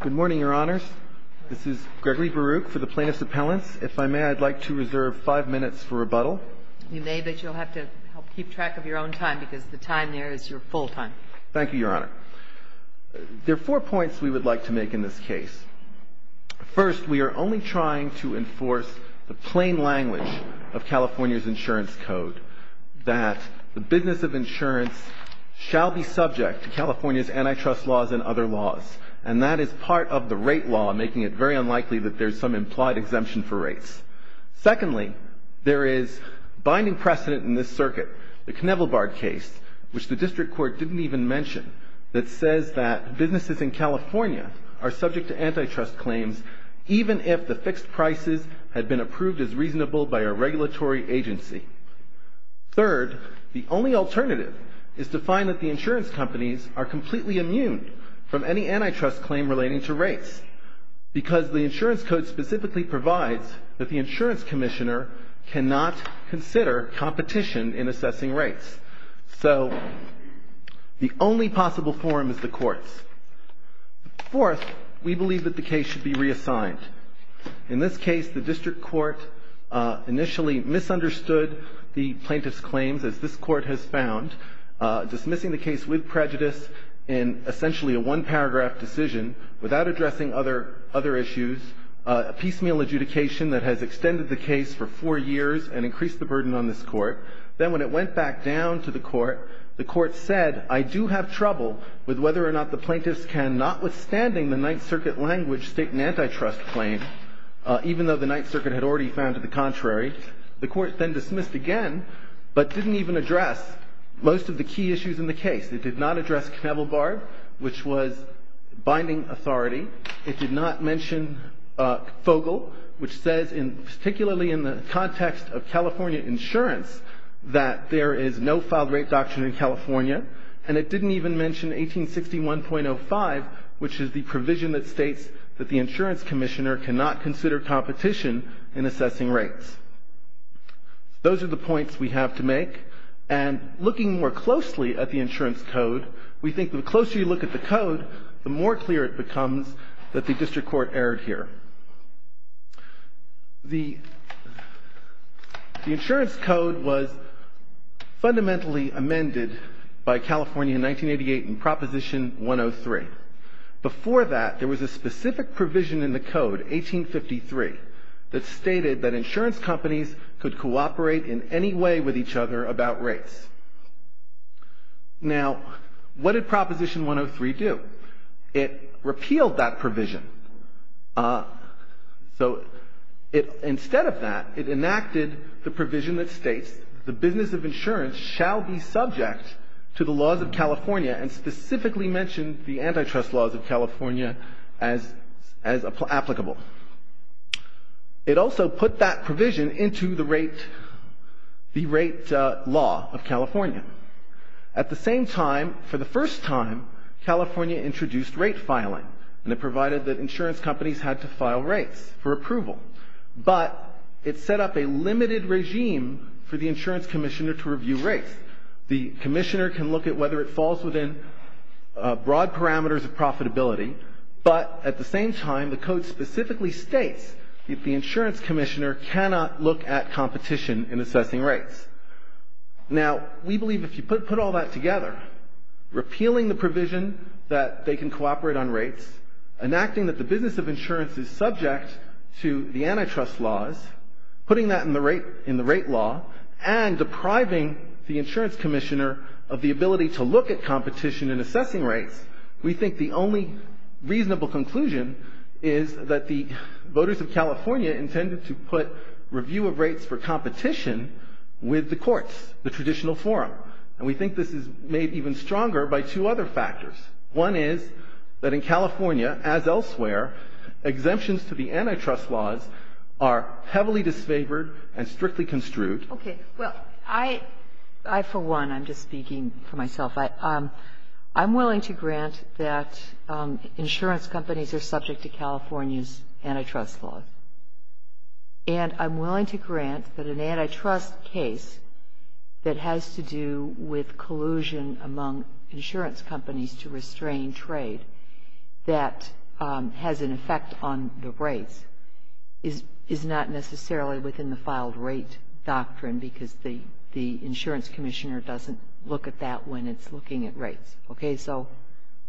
Good morning, Your Honors. This is Gregory Baruch for the Plaintiffs' Appellants. If I may, I'd like to reserve five minutes for rebuttal. You may, but you'll have to help keep track of your own time because the time there is your full time. Thank you, Your Honor. There are four points we would like to make in this case. First, we are only trying to enforce the plain language of California's insurance code, that the business of insurance shall be subject to California's antitrust laws and other laws, and that is part of the rate law, making it very unlikely that there's some implied exemption for rates. Secondly, there is binding precedent in this circuit, the Knevelbard case, which the District Court didn't even mention, that says that businesses in California are subject to antitrust claims even if the fixed prices had been approved as reasonable by a regulatory agency. Third, the only alternative is to find that the insurance companies are completely immune from any antitrust claim relating to rates because the insurance code specifically provides that the insurance commissioner cannot consider competition in assessing rates. So the only possible forum is the courts. Fourth, we believe that the case should be reassigned. In this case, the District Court initially misunderstood the plaintiff's claims, as this Court has found, dismissing the case with prejudice in essentially a one-paragraph decision without addressing other issues, a piecemeal adjudication that has extended the case for four years and increased the burden on this Court. Then when it went back down to the Court, the Court said, I do have trouble with whether or not the plaintiffs can, notwithstanding the Ninth Circuit language, state an antitrust claim, even though the Ninth Circuit had already found it the contrary. The Court then dismissed again, but didn't even address most of the key issues in the case. It did not address Knevelbard, which was binding authority. It did not mention Fogle, which says, particularly in the context of California insurance, that there is no filed rate doctrine in California. And it didn't even mention 1861.05, which is the provision that states that the insurance commissioner cannot consider competition in assessing rates. Those are the points we have to make. And looking more closely at the insurance code, we think the closer you look at the code, the more clear it becomes that the District Court erred here. The insurance code was fundamentally amended by California in 1988 in Proposition 103. Before that, there was a specific provision in the code, 1853, that stated that insurance companies could cooperate in any way with each other about rates. Now, what did Proposition 103 do? It repealed that provision. So instead of that, it enacted the provision that states, the business of insurance shall be subject to the laws of California and specifically mentioned the antitrust laws of California as applicable. It also put that provision into the rate law of California. At the same time, for the first time, California introduced rate filing, and it provided that insurance companies had to file rates for approval. But it set up a limited regime for the insurance commissioner to review rates. The commissioner can look at whether it falls within broad parameters of profitability, but at the same time, the code specifically states that the insurance commissioner cannot look at competition in assessing rates. Now, we believe if you put all that together, repealing the provision that they can cooperate on rates, enacting that the business of insurance is subject to the antitrust laws, putting that in the rate law, and depriving the insurance commissioner of the ability to look at competition in assessing rates, we think the only reasonable conclusion is that the voters of California intended to put review of rates for competition with the courts, the traditional forum. And we think this is made even stronger by two other factors. One is that in California, as elsewhere, exemptions to the antitrust laws are heavily disfavored and strictly construed. Okay. Well, I, for one, I'm just speaking for myself. I'm willing to grant that insurance companies are subject to California's antitrust laws. And I'm willing to grant that an antitrust case that has to do with collusion among insurance companies to restrain trade that has an effect on the rates is not necessarily within the filed rate doctrine because the insurance commissioner doesn't look at that when it's looking at rates. Okay. So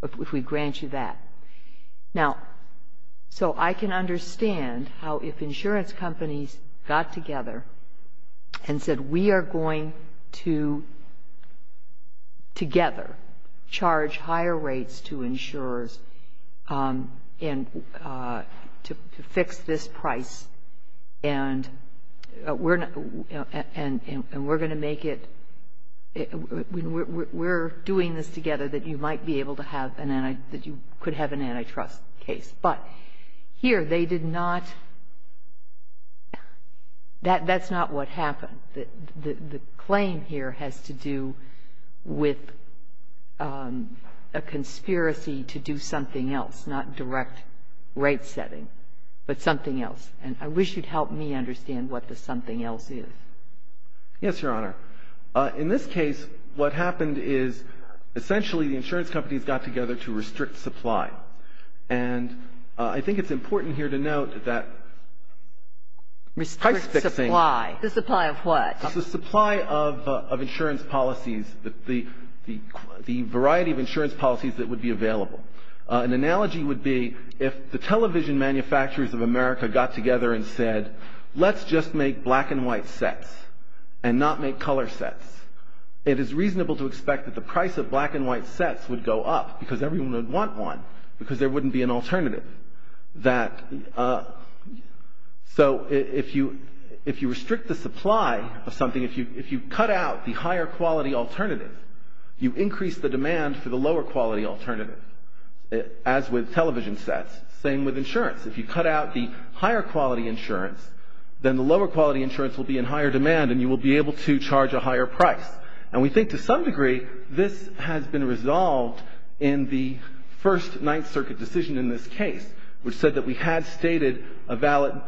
if we grant you that. Now, so I can understand how if insurance companies got together and said we are going to together charge higher rates to insurers to fix this price and we're going to make it, we're doing this together that you might be able to have, that you could have an antitrust case. But here they did not, that's not what happened. The claim here has to do with a conspiracy to do something else, not direct rate setting, but something else. And I wish you'd help me understand what the something else is. Yes, Your Honor. In this case, what happened is essentially the insurance companies got together to restrict supply. And I think it's important here to note that price fixing. Restrict supply. The supply of what? The supply of insurance policies, the variety of insurance policies that would be available. An analogy would be if the television manufacturers of America got together and said let's just make black and white sets and not make color sets. It is reasonable to expect that the price of black and white sets would go up, because everyone would want one, because there wouldn't be an alternative. So if you restrict the supply of something, if you cut out the higher quality alternative, you increase the demand for the lower quality alternative, as with television sets. Same with insurance. If you cut out the higher quality insurance, then the lower quality insurance will be in higher demand and you will be able to charge a higher price. And we think to some degree this has been resolved in the First Ninth Circuit decision in this case, which said that we had stated a valid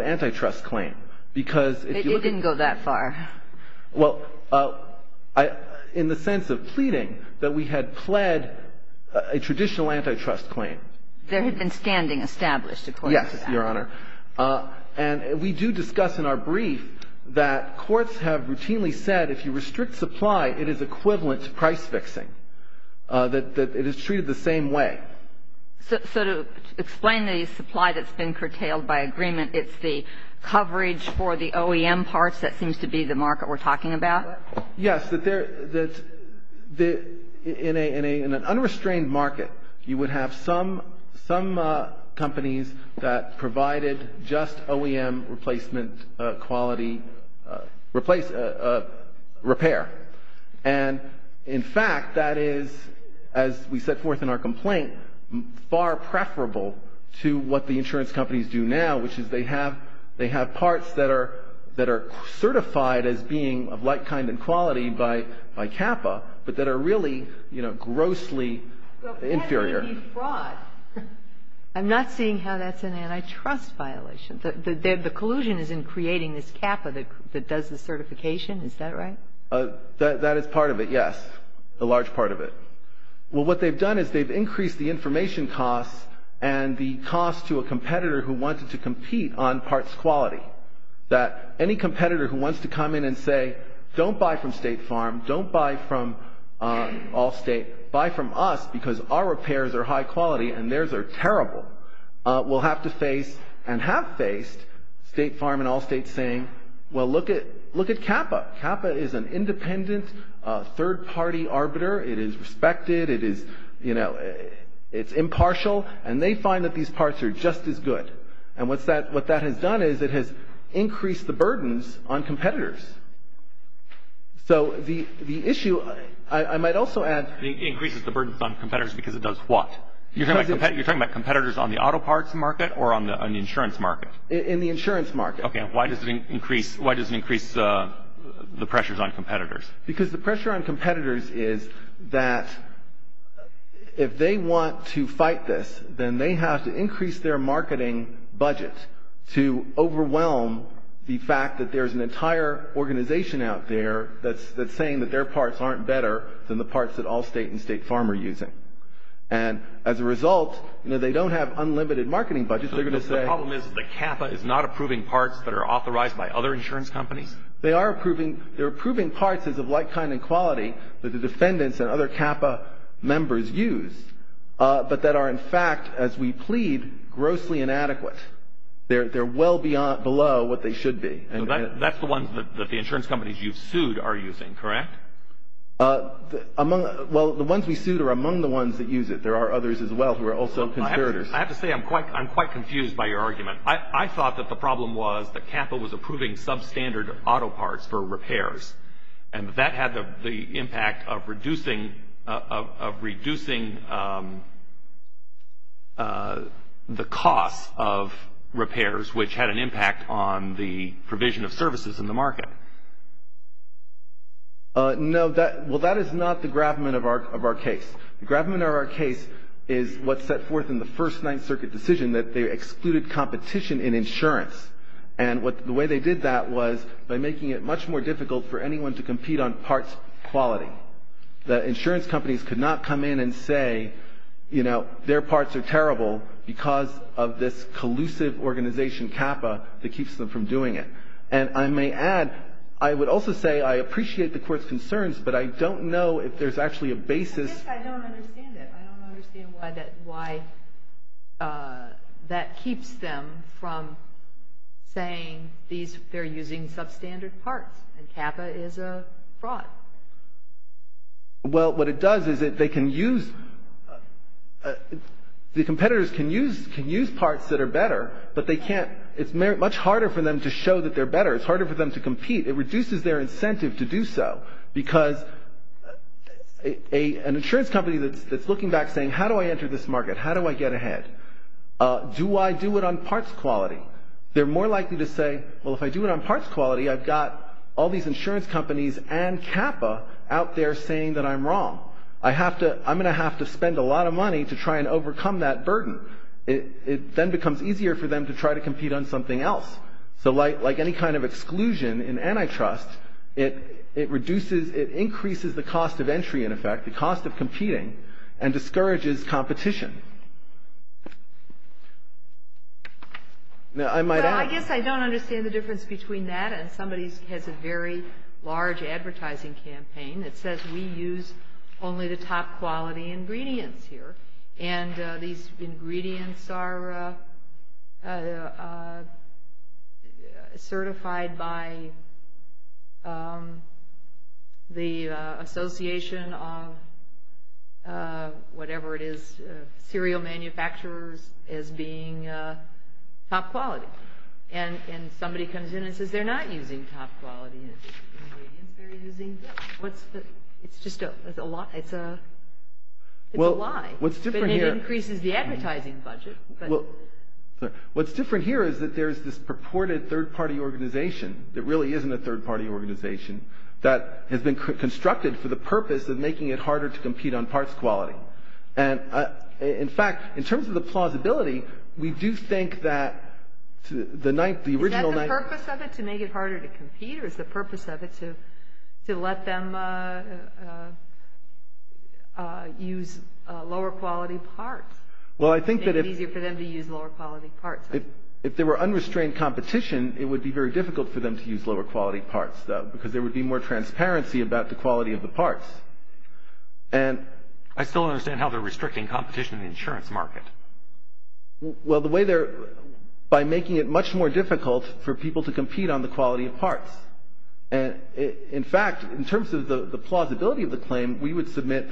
antitrust claim, because if you were to go that far. It didn't go that far. Well, in the sense of pleading that we had pled a traditional antitrust claim. There had been standing established, according to that. Yes, Your Honor. And we do discuss in our brief that courts have routinely said if you restrict supply, it is equivalent to price fixing, that it is treated the same way. So to explain the supply that's been curtailed by agreement, it's the coverage for the OEM parts that seems to be the market we're talking about? Yes. In an unrestrained market, you would have some companies that provided just OEM replacement quality repair. And in fact, that is, as we set forth in our complaint, far preferable to what the insurance companies do now, which is they have parts that are certified as being of like kind and quality by CAPA, but that are really, you know, grossly inferior. But that would be fraud. I'm not seeing how that's an antitrust violation. The collusion is in creating this CAPA that does the certification. Is that right? That is part of it, yes, a large part of it. Well, what they've done is they've increased the information costs and the cost to a competitor who wanted to compete on parts quality. That any competitor who wants to come in and say, don't buy from State Farm, don't buy from Allstate, buy from us because our repairs are high quality and theirs are terrible, will have to face and have faced State Farm and Allstate saying, well, look at CAPA. CAPA is an independent third-party arbiter. It is respected. It is, you know, it's impartial. And they find that these parts are just as good. And what that has done is it has increased the burdens on competitors. So the issue, I might also add. It increases the burdens on competitors because it does what? You're talking about competitors on the auto parts market or on the insurance market? In the insurance market. Okay, why does it increase the pressures on competitors? Because the pressure on competitors is that if they want to fight this, then they have to increase their marketing budget to overwhelm the fact that there's an entire organization out there that's saying that their parts aren't better than the parts that Allstate and State Farm are using. And as a result, you know, they don't have unlimited marketing budgets. The problem is that CAPA is not approving parts that are authorized by other insurance companies? They are approving parts as of like kind and quality that the defendants and other CAPA members use, but that are, in fact, as we plead, grossly inadequate. They're well below what they should be. So that's the ones that the insurance companies you've sued are using, correct? Well, the ones we sued are among the ones that use it. There are others as well who are also competitors. I have to say I'm quite confused by your argument. I thought that the problem was that CAPA was approving substandard auto parts for repairs, and that had the impact of reducing the cost of repairs, which had an impact on the provision of services in the market. No, well, that is not the gravamen of our case. The gravamen of our case is what's set forth in the First Ninth Circuit decision, that they excluded competition in insurance. And the way they did that was by making it much more difficult for anyone to compete on parts quality. The insurance companies could not come in and say, you know, their parts are terrible because of this collusive organization, CAPA, that keeps them from doing it. And I may add, I would also say I appreciate the Court's concerns, but I don't know if there's actually a basis. I guess I don't understand it. I don't understand why that keeps them from saying they're using substandard parts and CAPA is a fraud. Well, what it does is they can use, the competitors can use parts that are better, but they can't, it's much harder for them to show that they're better. It's harder for them to compete. It reduces their incentive to do so, because an insurance company that's looking back saying, how do I enter this market, how do I get ahead, do I do it on parts quality? They're more likely to say, well, if I do it on parts quality, I've got all these insurance companies and CAPA out there saying that I'm wrong. I have to, I'm going to have to spend a lot of money to try and overcome that burden. It then becomes easier for them to try to compete on something else. So like any kind of exclusion in antitrust, it reduces, it increases the cost of entry, in effect, the cost of competing, and discourages competition. I guess I don't understand the difference between that and somebody has a very large advertising campaign that says we use only the top quality ingredients here, and these ingredients are certified by the Association of whatever it is, cereal manufacturers, as being top quality. And somebody comes in and says they're not using top quality ingredients, they're using, it's just a lie, it's a lie. But it increases the advertising budget. What's different here is that there's this purported third-party organization that really isn't a third-party organization, that has been constructed for the purpose of making it harder to compete on parts quality. And in fact, in terms of the plausibility, we do think that the original... Is that the purpose of it, to make it harder to compete, or is the purpose of it to let them use lower-quality parts? Well, I think that if... Make it easier for them to use lower-quality parts. If there were unrestrained competition, it would be very difficult for them to use lower-quality parts, though, because there would be more transparency about the quality of the parts. And... I still don't understand how they're restricting competition in the insurance market. Well, the way they're... By making it much more difficult for people to compete on the quality of parts. And in fact, in terms of the plausibility of the claim, we would submit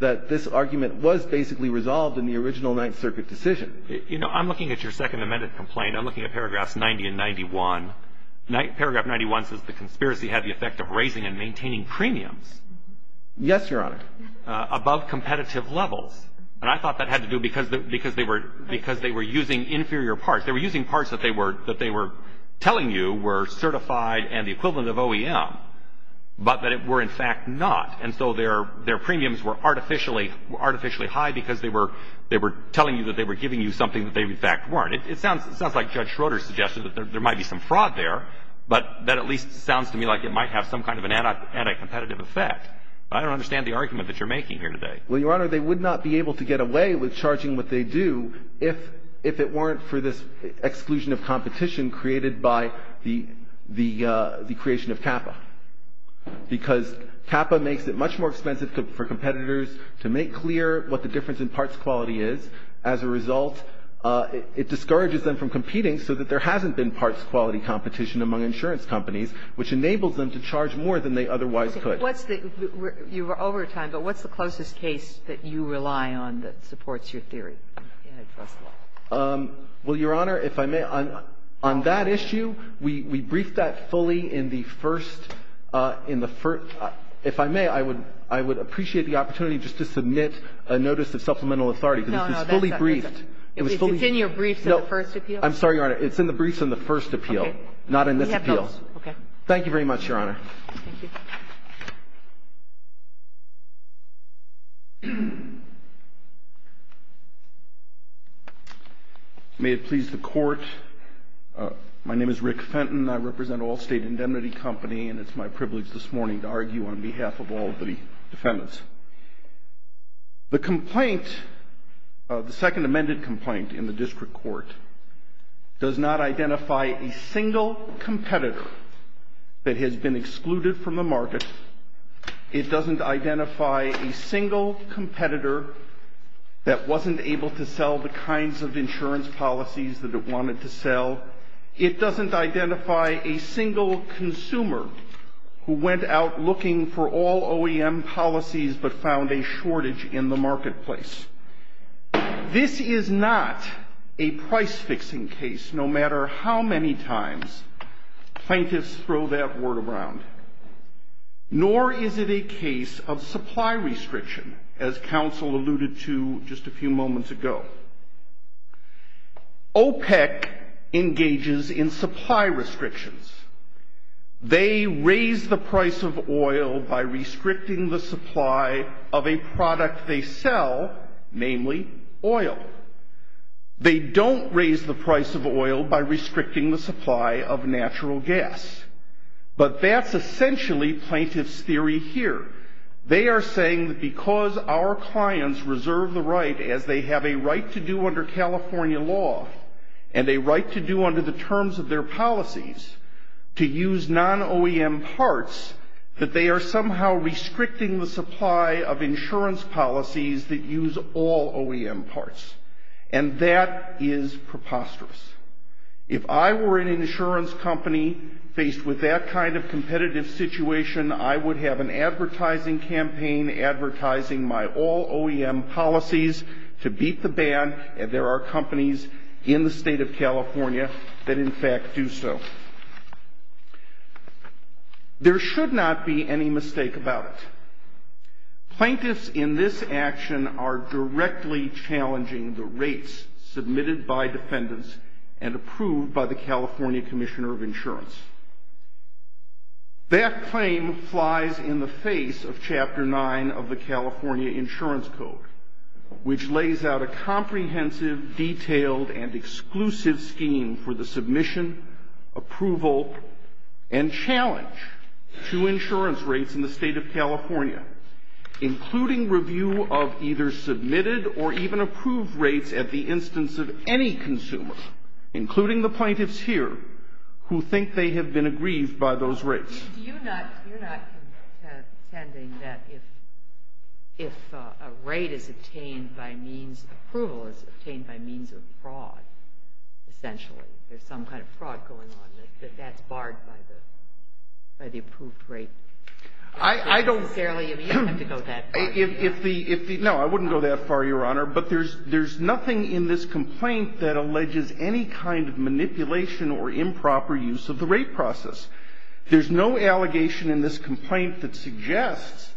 that this argument was basically resolved in the original Ninth Circuit decision. You know, I'm looking at your second amended complaint. I'm looking at paragraphs 90 and 91. Paragraph 91 says the conspiracy had the effect of raising and maintaining premiums. Yes, Your Honor. Above competitive levels. And I thought that had to do because they were using inferior parts. They were using parts that they were telling you were certified and the equivalent of OEM, but that it were in fact not. And so their premiums were artificially high because they were telling you that they were giving you something that they in fact weren't. It sounds like Judge Schroeder suggested that there might be some fraud there, but that at least sounds to me like it might have some kind of an anti-competitive effect. I don't understand the argument that you're making here today. Well, Your Honor, they would not be able to get away with charging what they do if it weren't for this exclusion of competition created by the creation of CAPA. Because CAPA makes it much more expensive for competitors to make clear what the difference in parts quality is. As a result, it discourages them from competing so that there hasn't been parts quality competition among insurance companies, which enables them to charge more than they otherwise could. But what's the – you were over time, but what's the closest case that you rely on that supports your theory? Well, Your Honor, if I may, on that issue, we briefed that fully in the first – in the first – if I may, I would appreciate the opportunity just to submit a notice of supplemental authority. No, no. It's fully briefed. It's in your briefs in the first appeal? I'm sorry, Your Honor. It's in the briefs in the first appeal, not in this appeal. Okay. Thank you very much, Your Honor. Thank you. May it please the Court. My name is Rick Fenton. I represent Allstate Indemnity Company, and it's my privilege this morning to argue on behalf of all of the defendants. The complaint, the second amended complaint in the district court, does not identify a single competitor that has been excluded from the market. It doesn't identify a single competitor that wasn't able to sell the kinds of insurance policies that it wanted to sell. It doesn't identify a single consumer who went out looking for all OEM policies but found a shortage in the marketplace. This is not a price-fixing case, no matter how many times plaintiffs throw that word around. Nor is it a case of supply restriction, as counsel alluded to just a few moments ago. OPEC engages in supply restrictions. They raise the price of oil by restricting the supply of a product they sell, namely oil. They don't raise the price of oil by restricting the supply of natural gas. But that's essentially plaintiffs' theory here. They are saying that because our clients reserve the right, as they have a right to do under non-OEM parts, that they are somehow restricting the supply of insurance policies that use all OEM parts. And that is preposterous. If I were an insurance company faced with that kind of competitive situation, I would have an advertising campaign advertising my all OEM policies to beat the ban, and there are companies in the state of California that in fact do so. There should not be any mistake about it. Plaintiffs in this action are directly challenging the rates submitted by defendants and approved by the California Commissioner of Insurance. That claim flies in the face of Chapter 9 of the California Insurance Code, which lays out a comprehensive, detailed, and exclusive scheme for the submission, approval, and challenge to insurance rates in the state of California, including review of either submitted or even approved rates at the instance of any consumer, including the plaintiffs here, who think they have been aggrieved by those rates. You're not contending that if a rate is obtained by means of approval, it's obtained by means of fraud, essentially. There's some kind of fraud going on, that that's barred by the approved rate. I don't necessarily agree. You don't have to go that far. No, I wouldn't go that far, Your Honor. But there's nothing in this complaint that alleges any kind of manipulation or improper use of the rate process. There's no allegation in this complaint that suggests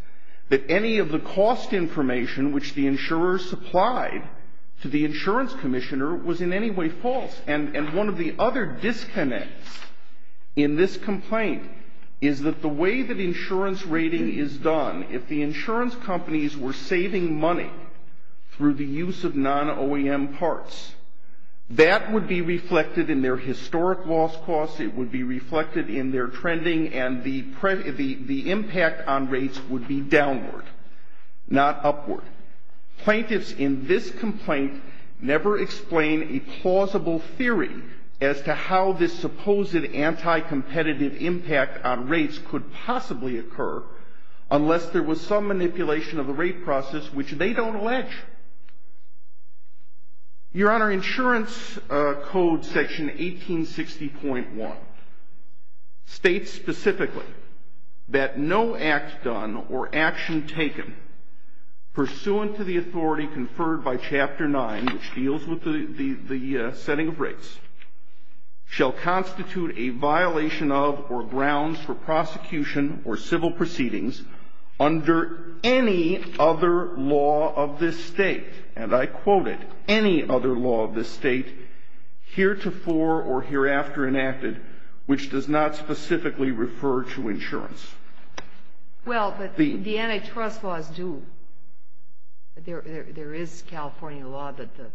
that any of the cost information which the insurers supplied to the insurance commissioner was in any way false. And one of the other disconnects in this complaint is that the way that insurance rating is done, if the insurance companies were saving money through the use of non-OEM parts, that would be reflected in their historic loss costs, it would be reflected in their trending, and the impact on rates would be downward, not upward. Plaintiffs in this complaint never explain a plausible theory as to how this supposed anti-competitive impact on rates could possibly occur unless there was some manipulation of the rate process, which they don't allege. Your Honor, insurance code section 1860.1 states specifically that no act done or action taken pursuant to the authority conferred by Chapter 9, which deals with the setting of rates, shall constitute a violation of or grounds for prosecution or civil proceedings under any other law of this State. And I quote it, any other law of this State heretofore or hereafter enacted which does not specifically refer to insurance. Well, but the antitrust laws do. There is California law that the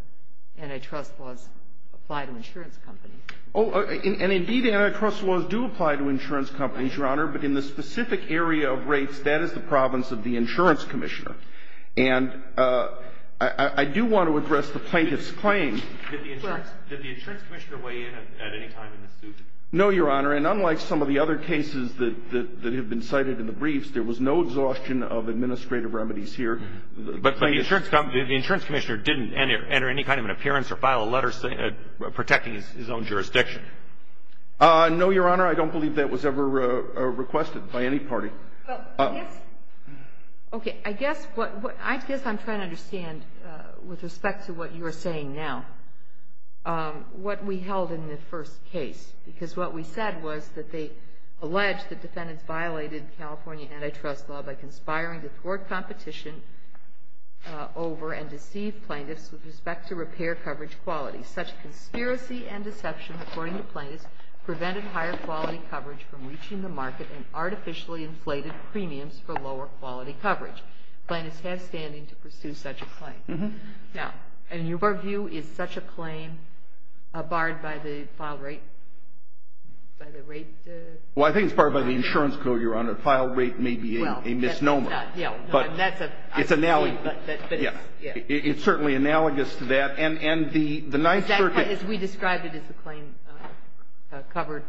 antitrust laws apply to insurance companies. Oh, and indeed antitrust laws do apply to insurance companies, Your Honor, but in the case that is the province of the insurance commissioner. And I do want to address the plaintiff's claim. Did the insurance commissioner weigh in at any time in this suit? No, Your Honor, and unlike some of the other cases that have been cited in the briefs, there was no exhaustion of administrative remedies here. But the insurance commissioner didn't enter any kind of an appearance or file a letter protecting his own jurisdiction. No, Your Honor, I don't believe that was ever requested by any party. Okay, I guess what I'm trying to understand with respect to what you are saying now, what we held in the first case, because what we said was that they alleged that defendants violated California antitrust law by conspiring to thwart competition over and deceive plaintiffs with respect to repair coverage qualities. Such conspiracy and deception, according to plaintiffs, prevented higher quality coverage from reaching the market and artificially inflated premiums for lower quality coverage. Plaintiffs have standing to pursue such a claim. Now, in your view, is such a claim barred by the file rate? Well, I think it's barred by the insurance code, Your Honor. File rate may be a misnomer. It's analogous to that. As we described it as a claim covered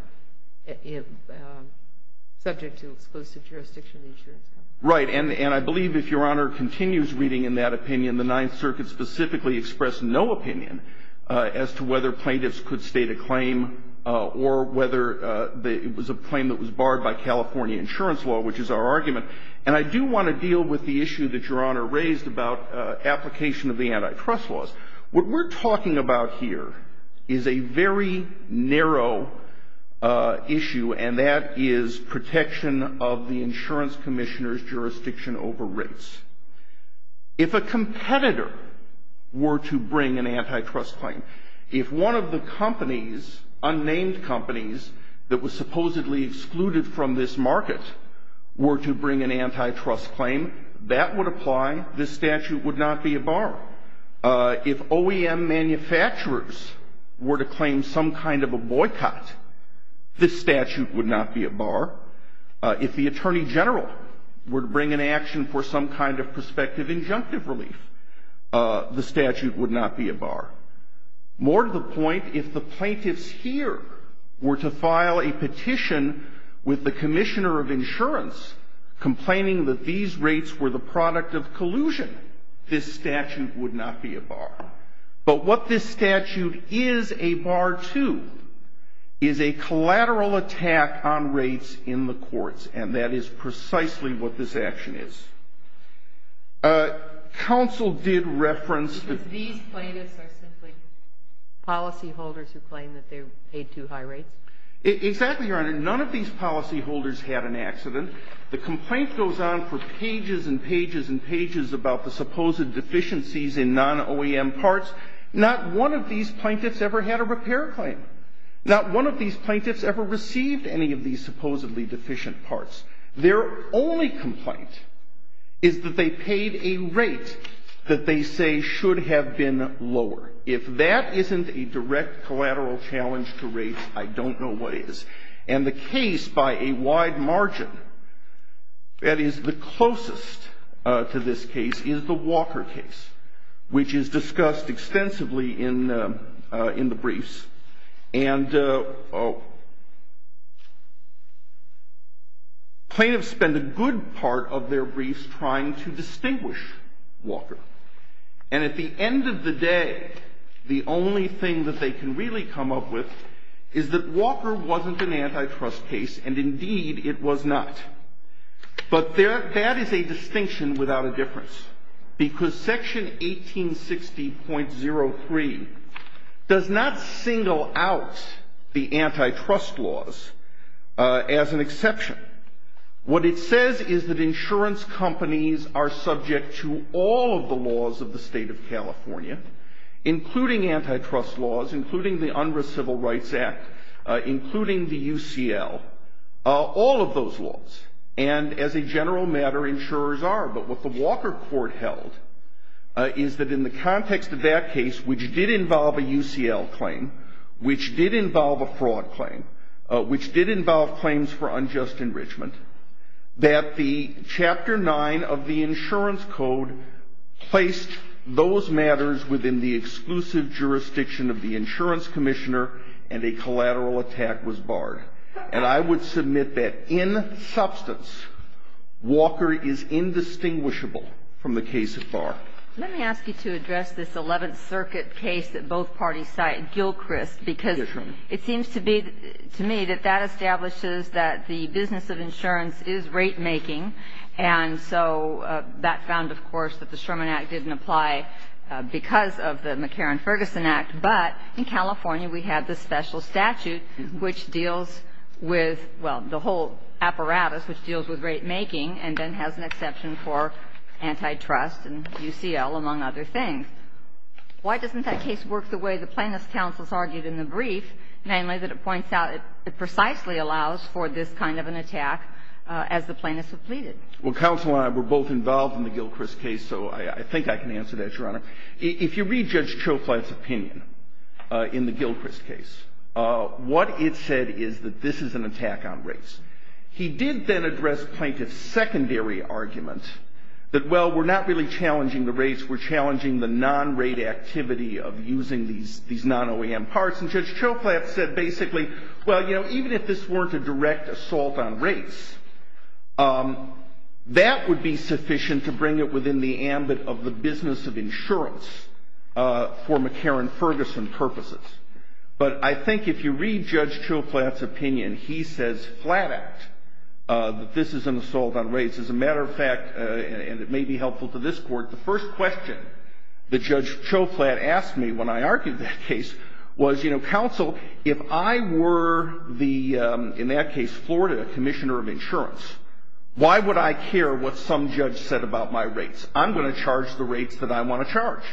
subject to exclusive jurisdiction of the insurance company. Right, and I believe if Your Honor continues reading in that opinion, the Ninth Circuit specifically expressed no opinion as to whether plaintiffs could state a claim or whether it was a claim that was barred by California insurance law, which is our argument. And I do want to deal with the issue that Your Honor raised about application of the antitrust laws. What we're talking about here is a very narrow issue, and that is protection of the insurance commissioner's jurisdiction over rates. If a competitor were to bring an antitrust claim, if one of the companies, unnamed companies, that was supposedly excluded from this market, were to bring an antitrust claim, that would apply. This statute would not be a bar. If OEM manufacturers were to claim some kind of a boycott, this statute would not be a bar. If the attorney general were to bring an action for some kind of prospective injunctive relief, the statute would not be a bar. More to the point, if the plaintiffs here were to file a petition with the exclusion, this statute would not be a bar. But what this statute is a bar to is a collateral attack on rates in the courts, and that is precisely what this action is. Counsel did reference that these plaintiffs are simply policyholders who claim that they paid too high rates. Exactly, Your Honor. None of these policyholders had an accident. The complaint goes on for pages and pages and pages about the supposed deficiencies in non-OEM parts. Not one of these plaintiffs ever had a repair claim. Not one of these plaintiffs ever received any of these supposedly deficient parts. Their only complaint is that they paid a rate that they say should have been lower. If that isn't a direct collateral challenge to rates, I don't know what is. And the case, by a wide margin, that is the closest to this case, is the Walker case, which is discussed extensively in the briefs. And plaintiffs spend a good part of their briefs trying to distinguish Walker. And at the end of the day, the only thing that they can really come up with is that it was not an antitrust case, and indeed it was not. But that is a distinction without a difference. Because Section 1860.03 does not single out the antitrust laws as an exception. What it says is that insurance companies are subject to all of the laws of the State of California, including antitrust laws, including the Unrest Civil Rights Act, including the UCL, all of those laws. And as a general matter, insurers are. But what the Walker court held is that in the context of that case, which did involve a UCL claim, which did involve a fraud claim, which did involve claims for unjust enrichment, that the Chapter 9 of the Insurance Code placed those matters within the exclusive jurisdiction of the insurance commissioner, and a collateral attack was barred. And I would submit that in substance, Walker is indistinguishable from the case at bar. Let me ask you to address this Eleventh Circuit case that both parties cite, Gilchrist. Yes, Your Honor. It seems to be, to me, that that establishes that the business of insurance is rate-making. And so that found, of course, that the Sherman Act didn't apply because of the McCarran-Ferguson Act. But in California, we have the special statute, which deals with, well, the whole apparatus, which deals with rate-making and then has an exception for antitrust and UCL, among other things. Why doesn't that case work the way the plaintiff's counsel has argued in the brief, namely that it points out it precisely allows for this kind of an attack as the plaintiffs have pleaded? Well, counsel and I were both involved in the Gilchrist case, so I think I can answer that, Your Honor. If you read Judge Choflat's opinion in the Gilchrist case, what it said is that this is an attack on rates. He did then address plaintiffs' secondary argument that, well, we're not really aware of the non-rate activity of using these non-OAM parts. And Judge Choflat said basically, well, you know, even if this weren't a direct assault on rates, that would be sufficient to bring it within the ambit of the business of insurance for McCarran-Ferguson purposes. But I think if you read Judge Choflat's opinion, he says flat-out that this is an assault on rates. As a matter of fact, and it may be helpful to this Court, the first question that Judge Choflat asked me when I argued that case was, you know, counsel, if I were the, in that case, Florida Commissioner of Insurance, why would I care what some judge said about my rates? I'm going to charge the rates that I want to charge.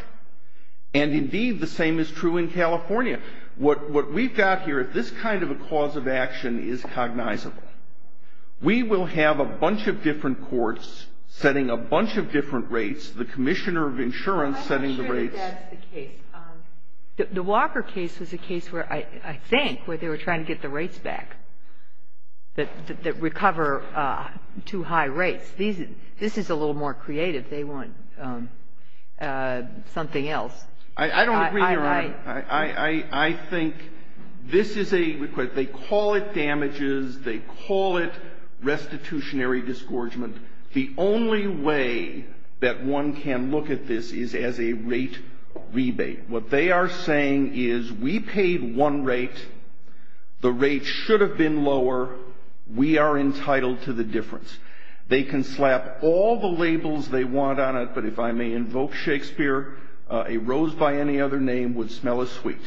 And, indeed, the same is true in California. What we've got here, if this kind of a cause of action is cognizable, we will have a bunch of different courts setting a bunch of different rates, the Commissioner of Insurance setting the rates. I'm not sure that that's the case. The Walker case was a case where, I think, where they were trying to get the rates back, that recover too high rates. This is a little more creative. They want something else. I don't agree, Your Honor. I think this is a request. They call it damages. They call it restitutionary disgorgement. The only way that one can look at this is as a rate rebate. What they are saying is, we paid one rate. The rate should have been lower. We are entitled to the difference. They can slap all the labels they want on it, but if I may invoke Shakespeare, a rose by any other name would smell as sweet.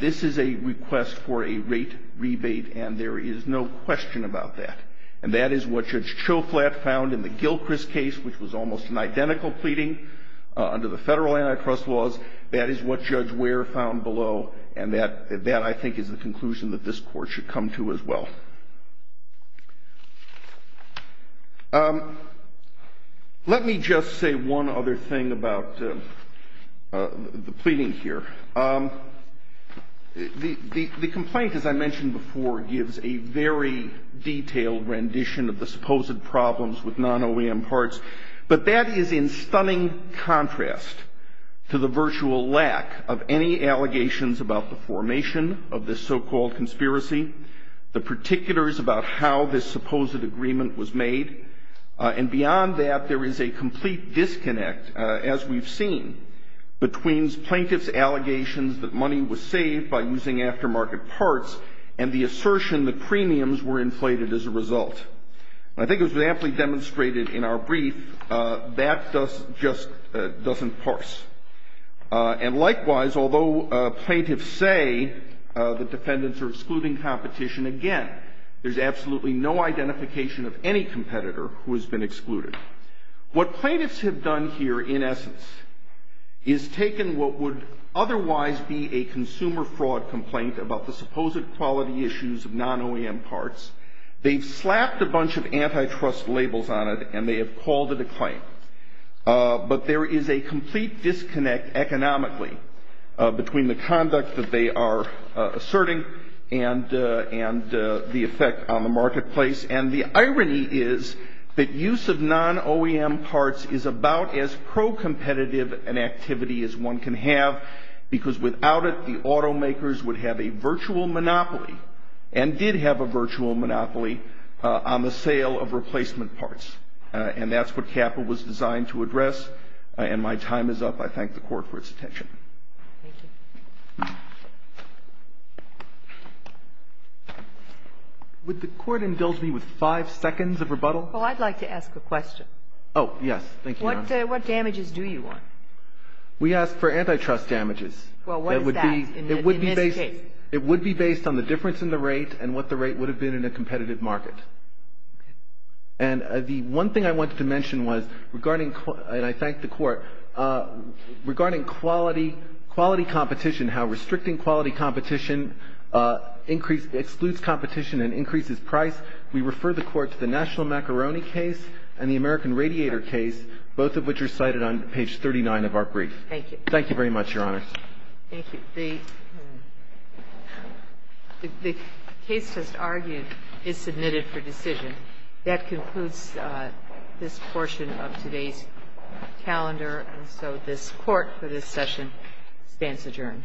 This is a request for a rate rebate, and there is no question about that. And that is what Judge Choflat found in the Gilchrist case, which was almost an identical pleading under the federal antitrust laws. That is what Judge Ware found below. And that, I think, is the conclusion that this Court should come to as well. Let me just say one other thing about the pleading here. The complaint, as I mentioned before, gives a very detailed rendition of the supposed problems with non-OEM parts. But that is in stunning contrast to the virtual lack of any allegations about the formation of this so-called conspiracy, the particulars about how this supposed agreement was made. And beyond that, there is a complete disconnect, as we've seen, between plaintiff's allegations that money was saved by using aftermarket parts and the assertion that premiums were inflated as a result. And I think it was amply demonstrated in our brief, that just doesn't parse. And likewise, although plaintiffs say that defendants are excluding competition, again, there's absolutely no identification of any competitor who has been excluded. What plaintiffs have done here, in essence, is taken what would otherwise be a consumer fraud complaint about the supposed quality issues of non-OEM parts. They've slapped a bunch of antitrust labels on it, and they have called it a claim. But there is a complete disconnect economically between the conduct that they are asserting and the effect on the marketplace. And the irony is that use of non-OEM parts is about as pro-competitive an activity as one can have, because without it, the automakers would have a virtual monopoly and did have a virtual monopoly on the sale of replacement parts. And that's what CAPA was designed to address. And my time is up. I thank the Court for its attention. Thank you. Would the Court indulge me with five seconds of rebuttal? Well, I'd like to ask a question. Oh, yes. Thank you, Your Honor. What damages do you want? We ask for antitrust damages. Well, what is that in this case? It would be based on the difference in the rate and what the rate would have been in a competitive market. Okay. And the one thing I wanted to mention was regarding, and I thank the Court, regarding quality competition, how restricting quality competition excludes competition and increases price. We refer the Court to the National Macaroni case and the American Radiator case, both of which are cited on page 39 of our brief. Thank you. Thank you very much, Your Honor. Thank you. The case just argued is submitted for decision. That concludes this portion of today's calendar. And so this Court for this session stands adjourned.